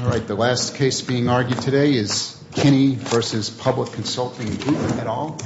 All right, the last case being argued today is Kinney v. Public Consulting Group et al. Kinney v. Public Consulting Group et al.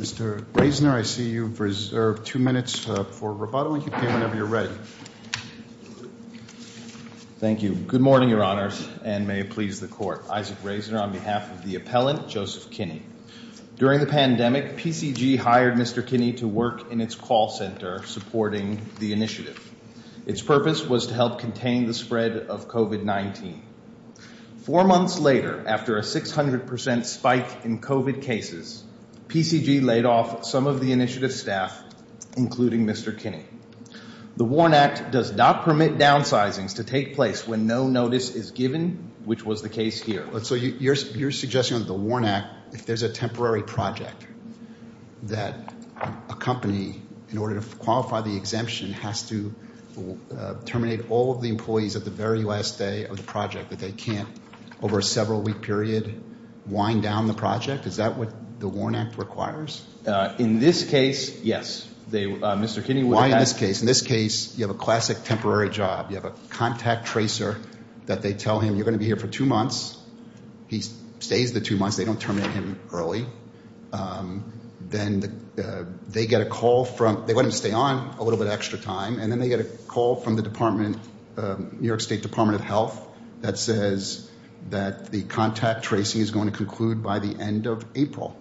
Mr. Raisner, I see you've reserved two minutes for rebuttal. You can come whenever you're ready. Thank you. Good morning, Your Honors, and may it please the Court. Isaac Raisner on behalf of the appellant, Joseph Kinney. During the pandemic, PCG hired Mr. Kinney to work in its call center supporting the initiative. Its purpose was to help contain the spread of COVID-19. Four months later, after a 600% spike in COVID cases, PCG laid off some of the initiative's staff, including Mr. Kinney. The WARN Act does not permit downsizing to take place when no notice is given, which was the case here. So you're suggesting that the WARN Act, if there's a temporary project, that a company, in order to qualify the exemption, has to terminate all of the employees at the very last day of the project, that they can't, over a several-week period, wind down the project? Is that what the WARN Act requires? In this case, yes. Mr. Kinney would have had— Why in this case? In this case, you have a classic temporary job. You have a contact tracer that they tell him, you're going to be here for two months. He stays the two months. They don't terminate him early. Then they get a call from—they let him stay on a little bit of extra time. And then they get a call from the department, New York State Department of Health, that says that the contact tracing is going to conclude by the end of April,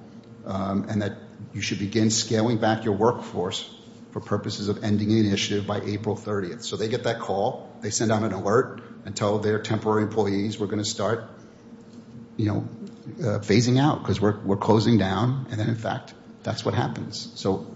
and that you should begin scaling back your workforce for purposes of ending the initiative by April 30th. So they get that call. They send out an alert and tell their temporary employees, we're going to start phasing out because we're closing down. And then, in fact, that's what happens. So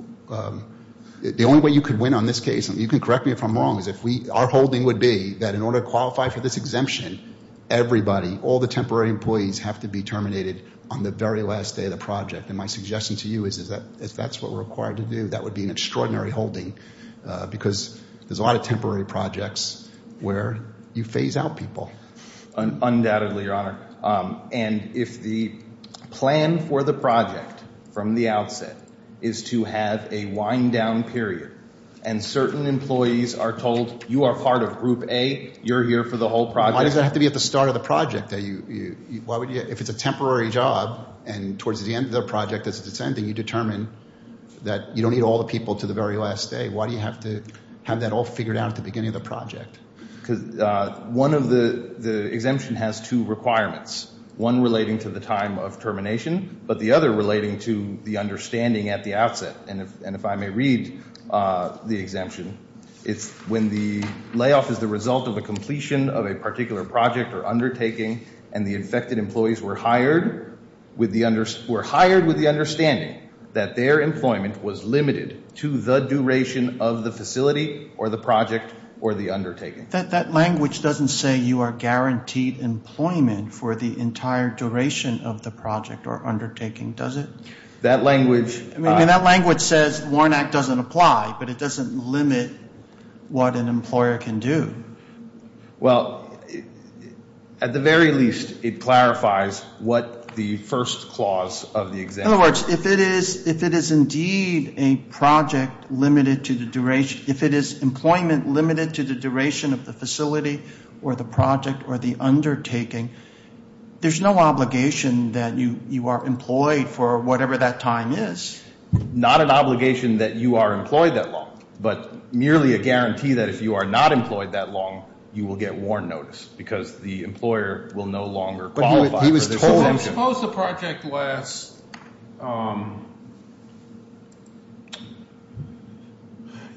the only way you could win on this case, and you can correct me if I'm wrong, is if our holding would be that in order to qualify for this exemption, everybody, all the temporary employees, have to be terminated on the very last day of the project. And my suggestion to you is, if that's what we're required to do, that would be an extraordinary holding because there's a lot of temporary projects where you phase out people. Undoubtedly, Your Honor. And if the plan for the project from the outset is to have a wind-down period and certain employees are told, you are part of Group A, you're here for the whole project— Why does it have to be at the start of the project? If it's a temporary job and towards the end of the project it's descending, and you determine that you don't need all the people to the very last day, why do you have to have that all figured out at the beginning of the project? Because one of the—the exemption has two requirements, one relating to the time of termination, but the other relating to the understanding at the outset. And if I may read the exemption, it's when the layoff is the result of a completion of a particular project or undertaking and the infected employees were hired with the understanding that their employment was limited to the duration of the facility or the project or the undertaking. That language doesn't say you are guaranteed employment for the entire duration of the project or undertaking, does it? That language— I mean, that language says Warren Act doesn't apply, but it doesn't limit what an employer can do. Well, at the very least it clarifies what the first clause of the exemption— In other words, if it is indeed a project limited to the duration— if it is employment limited to the duration of the facility or the project or the undertaking, there's no obligation that you are employed for whatever that time is. Not an obligation that you are employed that long, but merely a guarantee that if you are not employed that long, you will get Warren notice because the employer will no longer qualify for this exemption. Suppose the project lasts, you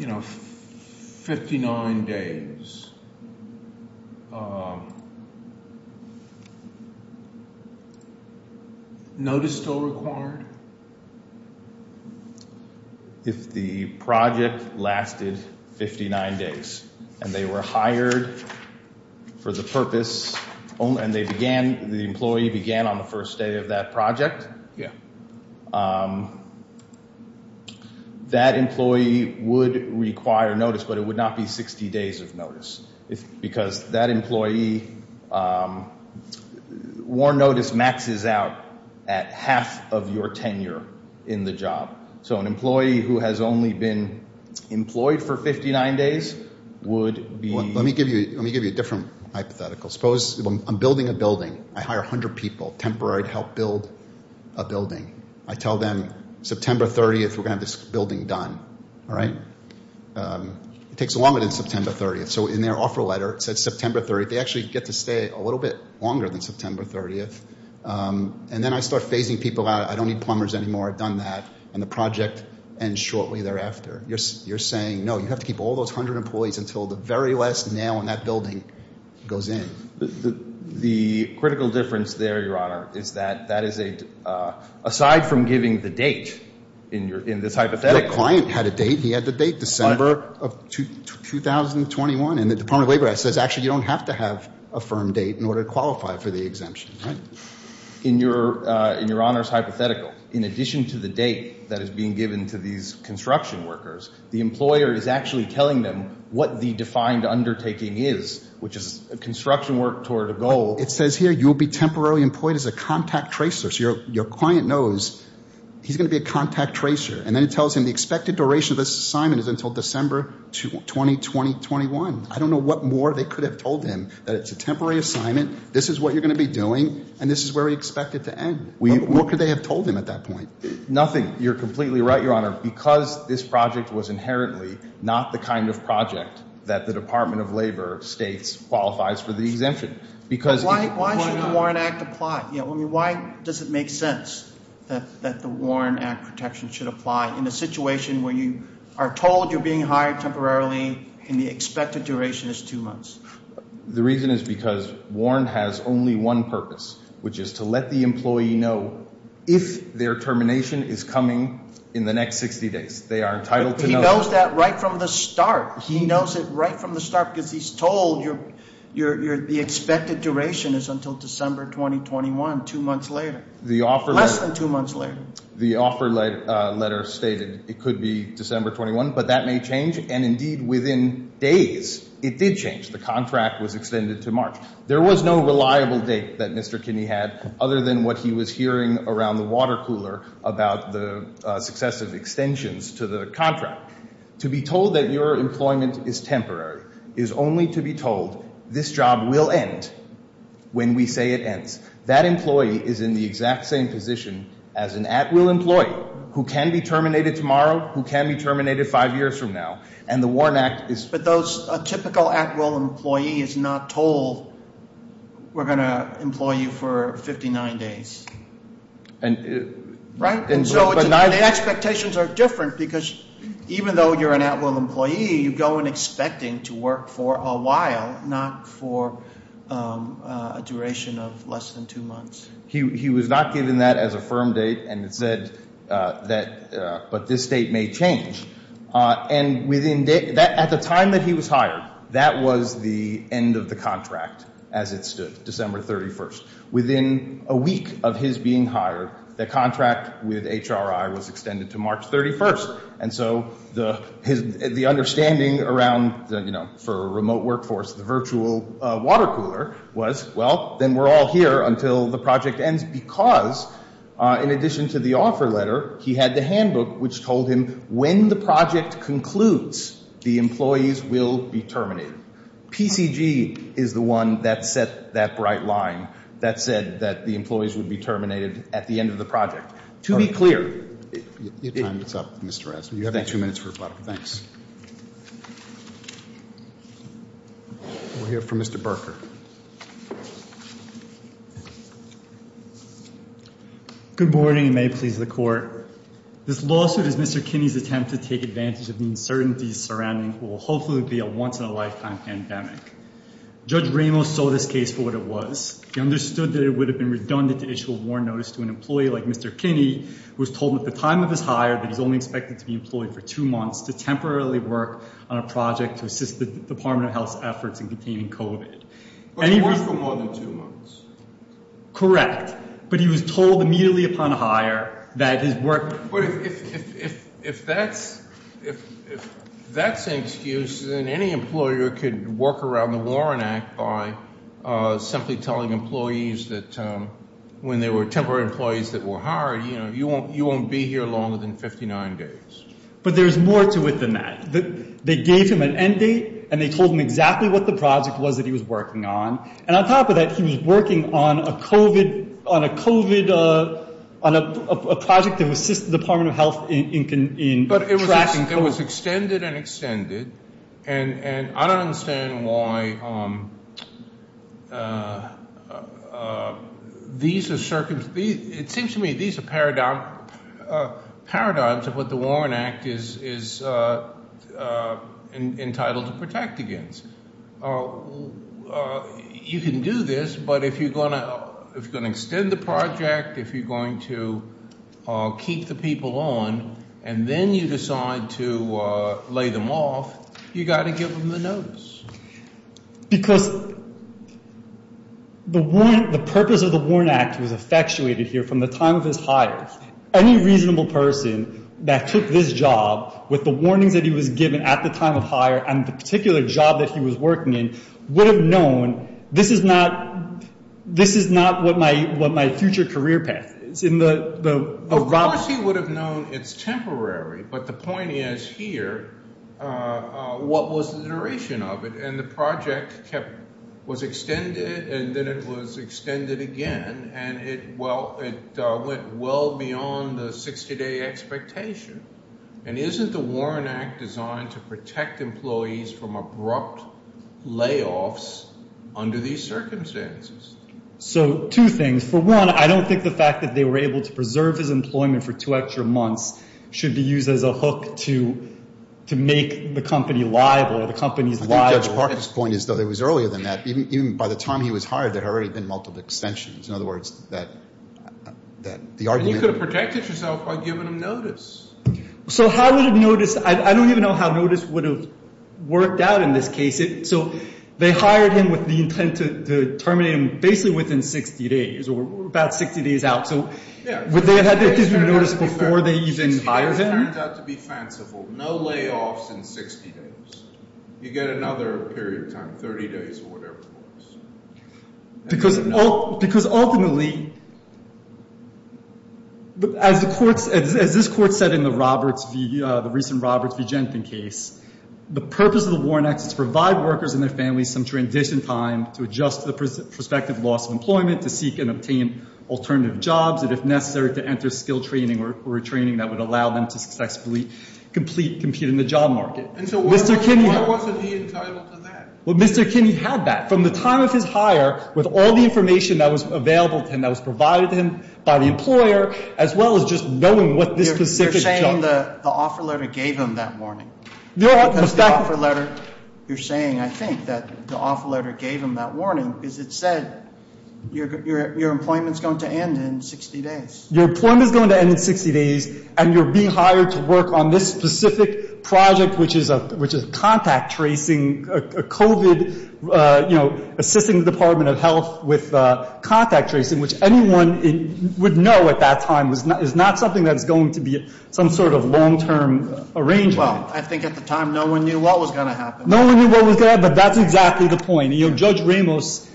know, 59 days. Notice still required? If the project lasted 59 days and they were hired for the purpose— and they began—the employee began on the first day of that project, that employee would require notice, but it would not be 60 days of notice because that employee—Warren notice maxes out at half of your tenure in the job. So an employee who has only been employed for 59 days would be— Let me give you a different hypothetical. Suppose I'm building a building. I hire 100 people, temporary to help build a building. I tell them September 30th we're going to have this building done, all right? It takes longer than September 30th. So in their offer letter, it said September 30th. They actually get to stay a little bit longer than September 30th. And then I start phasing people out. I don't need plumbers anymore. I've done that. And the project ends shortly thereafter. You're saying, no, you have to keep all those 100 employees until the very last nail in that building goes in. The critical difference there, Your Honor, is that that is a— aside from giving the date in this hypothetical— and the Department of Labor Act says actually you don't have to have a firm date in order to qualify for the exemption. In Your Honor's hypothetical, in addition to the date that is being given to these construction workers, the employer is actually telling them what the defined undertaking is, which is construction work toward a goal. It says here you will be temporarily employed as a contact tracer. So your client knows he's going to be a contact tracer. And then it tells him the expected duration of this assignment is until December 2020-21. I don't know what more they could have told him, that it's a temporary assignment, this is what you're going to be doing, and this is where we expect it to end. What could they have told him at that point? Nothing. You're completely right, Your Honor. Because this project was inherently not the kind of project that the Department of Labor states qualifies for the exemption. Why should the Warren Act apply? Why does it make sense that the Warren Act protection should apply in a situation where you are told you're being hired temporarily and the expected duration is two months? The reason is because Warren has only one purpose, which is to let the employee know if their termination is coming in the next 60 days. They are entitled to know. But he knows that right from the start. He knows it right from the start because he's told the expected duration is until December 2021, two months later. Less than two months later. The offer letter stated it could be December 21, but that may change. And, indeed, within days it did change. The contract was extended to March. There was no reliable date that Mr. Kinney had other than what he was hearing around the water cooler about the successive extensions to the contract. Now, to be told that your employment is temporary is only to be told this job will end when we say it ends. That employee is in the exact same position as an at-will employee who can be terminated tomorrow, who can be terminated five years from now. And the Warren Act is – But those – a typical at-will employee is not told we're going to employ you for 59 days. Right? And so the expectations are different because even though you're an at-will employee, you go in expecting to work for a while, not for a duration of less than two months. He was not given that as a firm date, and it said that – but this date may change. And within – at the time that he was hired, that was the end of the contract as it stood, December 31st. Within a week of his being hired, the contract with HRI was extended to March 31st. And so the understanding around, you know, for a remote workforce, the virtual water cooler was, well, then we're all here until the project ends because, in addition to the offer letter, he had the handbook which told him when the project concludes, the employees will be terminated. PCG is the one that set that bright line that said that the employees would be terminated at the end of the project. To be clear – Your time is up, Mr. Rasmussen. You have two minutes for rebuttal. Thanks. We'll hear from Mr. Berker. Good morning and may it please the Court. This lawsuit is Mr. Kinney's attempt to take advantage of the uncertainties surrounding what will hopefully be a once-in-a-lifetime pandemic. Judge Ramos saw this case for what it was. He understood that it would have been redundant to issue a warrant notice to an employee like Mr. Kinney, who was told at the time of his hire that he's only expected to be employed for two months to temporarily work on a project to assist the Department of Health's efforts in containing COVID. But he worked for more than two months. Correct. But he was told immediately upon hire that his work – If that's an excuse, then any employer could work around the Warren Act by simply telling employees that when there were temporary employees that were hired, you won't be here longer than 59 days. But there's more to it than that. They gave him an end date and they told him exactly what the project was that he was working on. And on top of that, he was working on a COVID – on a project that would assist the Department of Health in – But it was extended and extended. And I don't understand why these are – it seems to me these are paradigms of what the Warren Act is entitled to protect against. You can do this, but if you're going to – if you're going to extend the project, if you're going to keep the people on, and then you decide to lay them off, you've got to give them the notice. Because the purpose of the Warren Act was effectuated here from the time of his hire. Any reasonable person that took this job with the warnings that he was given at the time of hire and the particular job that he was working in would have known this is not – this is not what my future career path is. Of course he would have known it's temporary, but the point is here, what was the duration of it? And the project was extended and then it was extended again, and it went well beyond the 60-day expectation. And isn't the Warren Act designed to protect employees from abrupt layoffs under these circumstances? So two things. For one, I don't think the fact that they were able to preserve his employment for two extra months should be used as a hook to make the company liable or the company's liable. I think Judge Parker's point is that it was earlier than that. Even by the time he was hired, there had already been multiple extensions. In other words, that the argument – You could have protected yourself by giving him notice. So how would have noticed – I don't even know how notice would have worked out in this case. So they hired him with the intent to terminate him basically within 60 days or about 60 days out. So would they have had to give him notice before they even hired him? It turned out to be fanciful. No layoffs in 60 days. You get another period of time, 30 days or whatever it was. Because ultimately, as this court said in the recent Roberts v. Jenkin case, the purpose of the Warren Act is to provide workers and their families some transition time to adjust to the prospective loss of employment, to seek and obtain alternative jobs, and if necessary, to enter skilled training or a training that would allow them to successfully compete in the job market. And so why wasn't he entitled to that? Well, Mr. Kinney had that from the time of his hire with all the information that was available to him, that was provided to him by the employer, as well as just knowing what this specific job – You're saying the offer letter gave him that warning. Because the offer letter – you're saying, I think, that the offer letter gave him that warning because it said your employment is going to end in 60 days. Your employment is going to end in 60 days and you're being hired to work on this specific project, which is contact tracing, COVID, assisting the Department of Health with contact tracing, which anyone would know at that time is not something that is going to be some sort of long-term arrangement. Well, I think at the time no one knew what was going to happen. No one knew what was going to happen, but that's exactly the point. Judge Ramos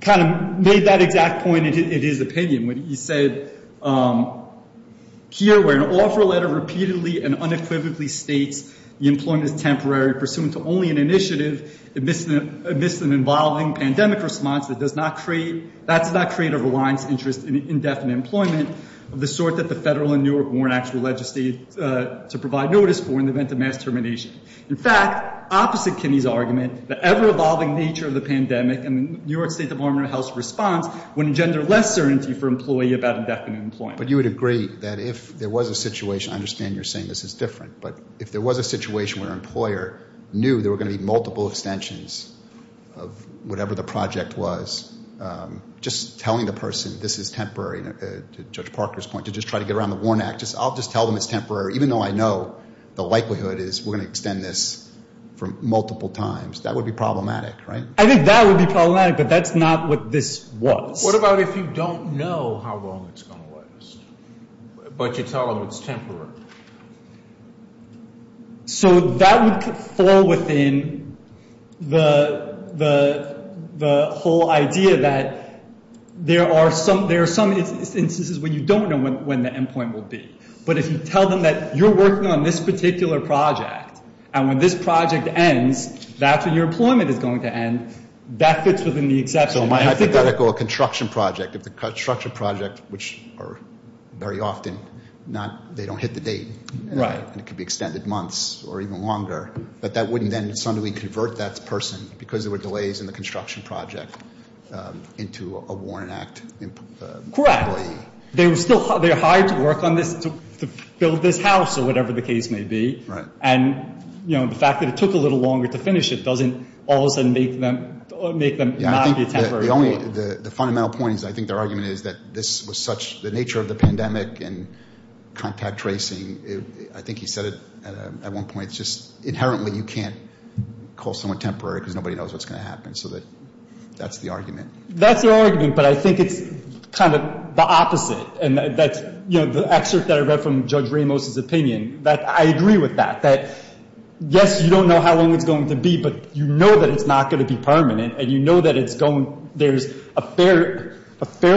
kind of made that exact point in his opinion when he said, Here, where an offer letter repeatedly and unequivocally states the employment is temporary, pursuant to only an initiative, amidst an evolving pandemic response, that does not create – that does not create a reliant interest in indefinite employment of the sort that the Federal and New York Warrant Act would legislate to provide notice for in the event of mass termination. In fact, opposite Kinney's argument, the ever-evolving nature of the pandemic and the New York State Department of Health's response would engender less certainty for employee about indefinite employment. But you would agree that if there was a situation – I understand you're saying this is different, but if there was a situation where an employer knew there were going to be multiple extensions of whatever the project was, just telling the person this is temporary, to Judge Parker's point, to just try to get around the Warrant Act, I'll just tell them it's temporary, even though I know the likelihood is we're going to extend this for multiple times, that would be problematic, right? I think that would be problematic, but that's not what this was. What about if you don't know how long it's going to last, but you tell them it's temporary? So that would fall within the whole idea that there are some instances when you don't know when the end point will be. But if you tell them that you're working on this particular project, and when this project ends, that's when your employment is going to end, that fits within the exception. So my hypothetical construction project, if the construction project, which very often they don't hit the date, and it could be extended months or even longer, but that wouldn't then suddenly convert that person, because there were delays in the construction project, into a Warrant Act employee. Correct. They're hired to work on this, to build this house or whatever the case may be. Right. And the fact that it took a little longer to finish it doesn't all of a sudden make them not be temporary. Yeah, I think the fundamental point is, I think their argument is that this was such, the nature of the pandemic and contact tracing, I think he said it at one point, it's just inherently you can't call someone temporary because nobody knows what's going to happen. So that's the argument. That's the argument, but I think it's kind of the opposite. The excerpt that I read from Judge Ramos' opinion, I agree with that, that yes, you don't know how long it's going to be, but you know that it's not going to be permanent, and you know that there's a fair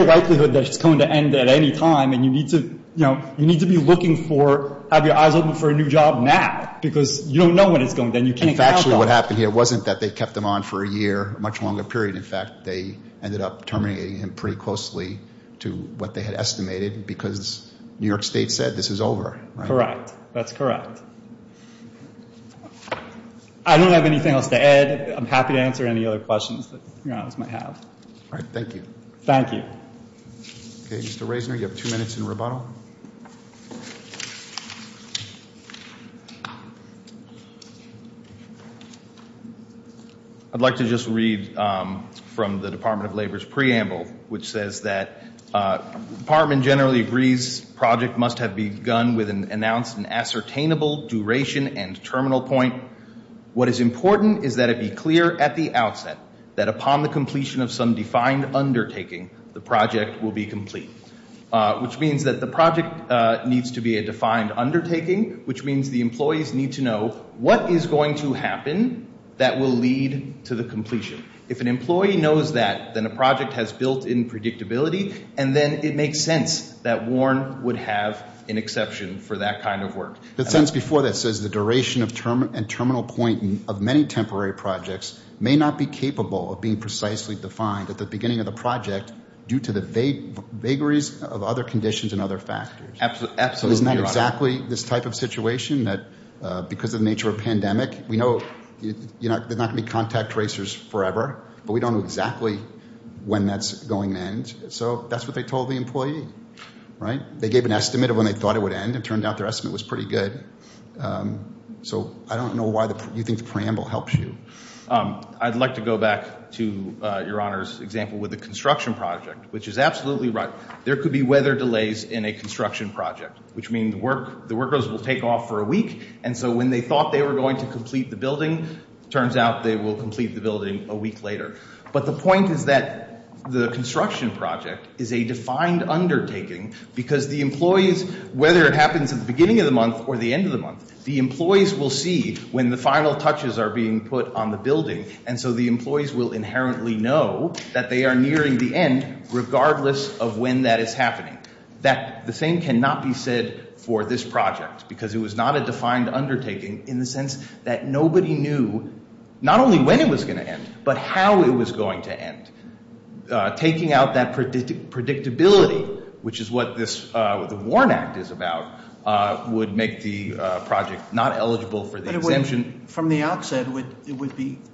likelihood that it's going to end at any time, and you need to be looking for, have your eyes open for a new job now, because you don't know when it's going to end. In fact, what happened here wasn't that they kept him on for a year, a much longer period. In fact, they ended up terminating him pretty closely to what they had estimated because New York State said this is over. Correct. That's correct. I don't have anything else to add. I'm happy to answer any other questions that you might have. All right. Thank you. Thank you. Mr. Reisner, you have two minutes in rebuttal. Go ahead. I'd like to just read from the Department of Labor's preamble, which says that the department generally agrees the project must have begun with an announced and ascertainable duration and terminal point. What is important is that it be clear at the outset that upon the completion of some defined undertaking, the project will be complete, which means that the project needs to be a defined undertaking, which means the employees need to know what is going to happen that will lead to the completion. If an employee knows that, then a project has built-in predictability, and then it makes sense that Warren would have an exception for that kind of work. It says before that says the duration and terminal point of many temporary projects may not be capable of being precisely defined at the beginning of the project due to the vagaries of other conditions and other factors. Absolutely. Isn't that exactly this type of situation that because of the nature of pandemic, we know there's not going to be contact tracers forever, but we don't know exactly when that's going to end. So that's what they told the employee, right? They gave an estimate of when they thought it would end. It turned out their estimate was pretty good. So I don't know why you think the preamble helps you. I'd like to go back to Your Honor's example with the construction project, which is absolutely right. There could be weather delays in a construction project, which means the workers will take off for a week, and so when they thought they were going to complete the building, it turns out they will complete the building a week later. But the point is that the construction project is a defined undertaking because the employees, whether it happens at the beginning of the month or the end of the month, the employees will see when the final touches are being put on the building, and so the employees will inherently know that they are nearing the end regardless of when that is happening. The same cannot be said for this project because it was not a defined undertaking in the sense that nobody knew, not only when it was going to end, but how it was going to end. Taking out that predictability, which is what the WARN Act is about, would make the project not eligible for the exemption. But from the outset, it would be –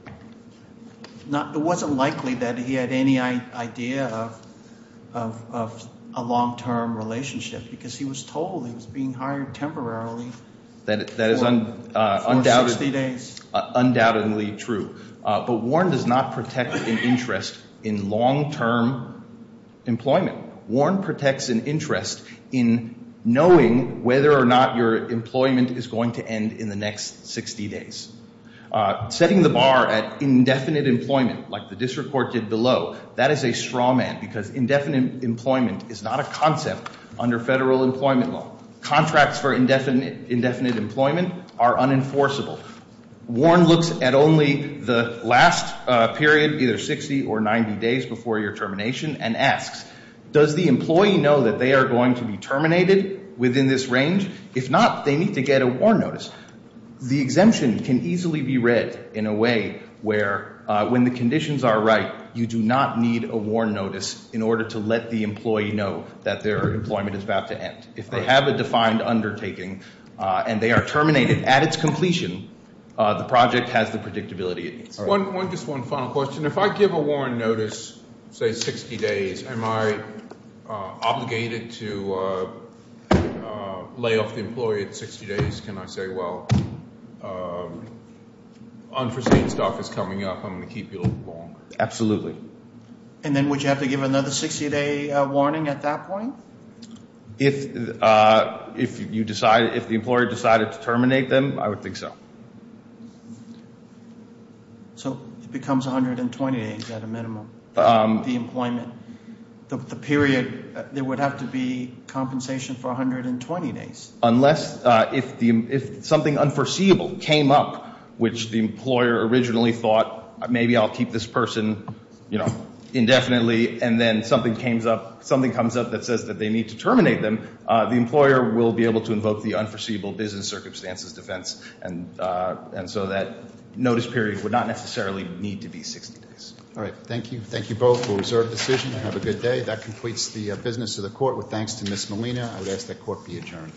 it wasn't likely that he had any idea of a long-term relationship because he was told he was being hired temporarily for 60 days. Undoubtedly true. But WARN does not protect an interest in long-term employment. WARN protects an interest in knowing whether or not your employment is going to end in the next 60 days. Setting the bar at indefinite employment, like the district court did below, that is a straw man because indefinite employment is not a concept under federal employment law. Contracts for indefinite employment are unenforceable. WARN looks at only the last period, either 60 or 90 days before your termination, and asks, does the employee know that they are going to be terminated within this range? If not, they need to get a WARN notice. The exemption can easily be read in a way where when the conditions are right, you do not need a WARN notice in order to let the employee know that their employment is about to end. If they have a defined undertaking and they are terminated at its completion, the project has the predictability it needs. Just one final question. If I give a WARN notice, say 60 days, am I obligated to lay off the employee at 60 days? Can I say, well, unforeseen stuff is coming up, I'm going to keep you a little longer? Absolutely. And then would you have to give another 60-day warning at that point? If you decide, if the employer decided to terminate them, I would think so. So it becomes 120 days at a minimum, the employment. The period, there would have to be compensation for 120 days. Unless if something unforeseeable came up, which the employer originally thought, maybe I'll keep this person indefinitely, and then something comes up that says that they need to terminate them, the employer will be able to invoke the unforeseeable business circumstances defense. And so that notice period would not necessarily need to be 60 days. All right. Thank you. Thank you both for a reserved decision and have a good day. That completes the business of the court. With thanks to Ms. Molina, I would ask that court be adjourned.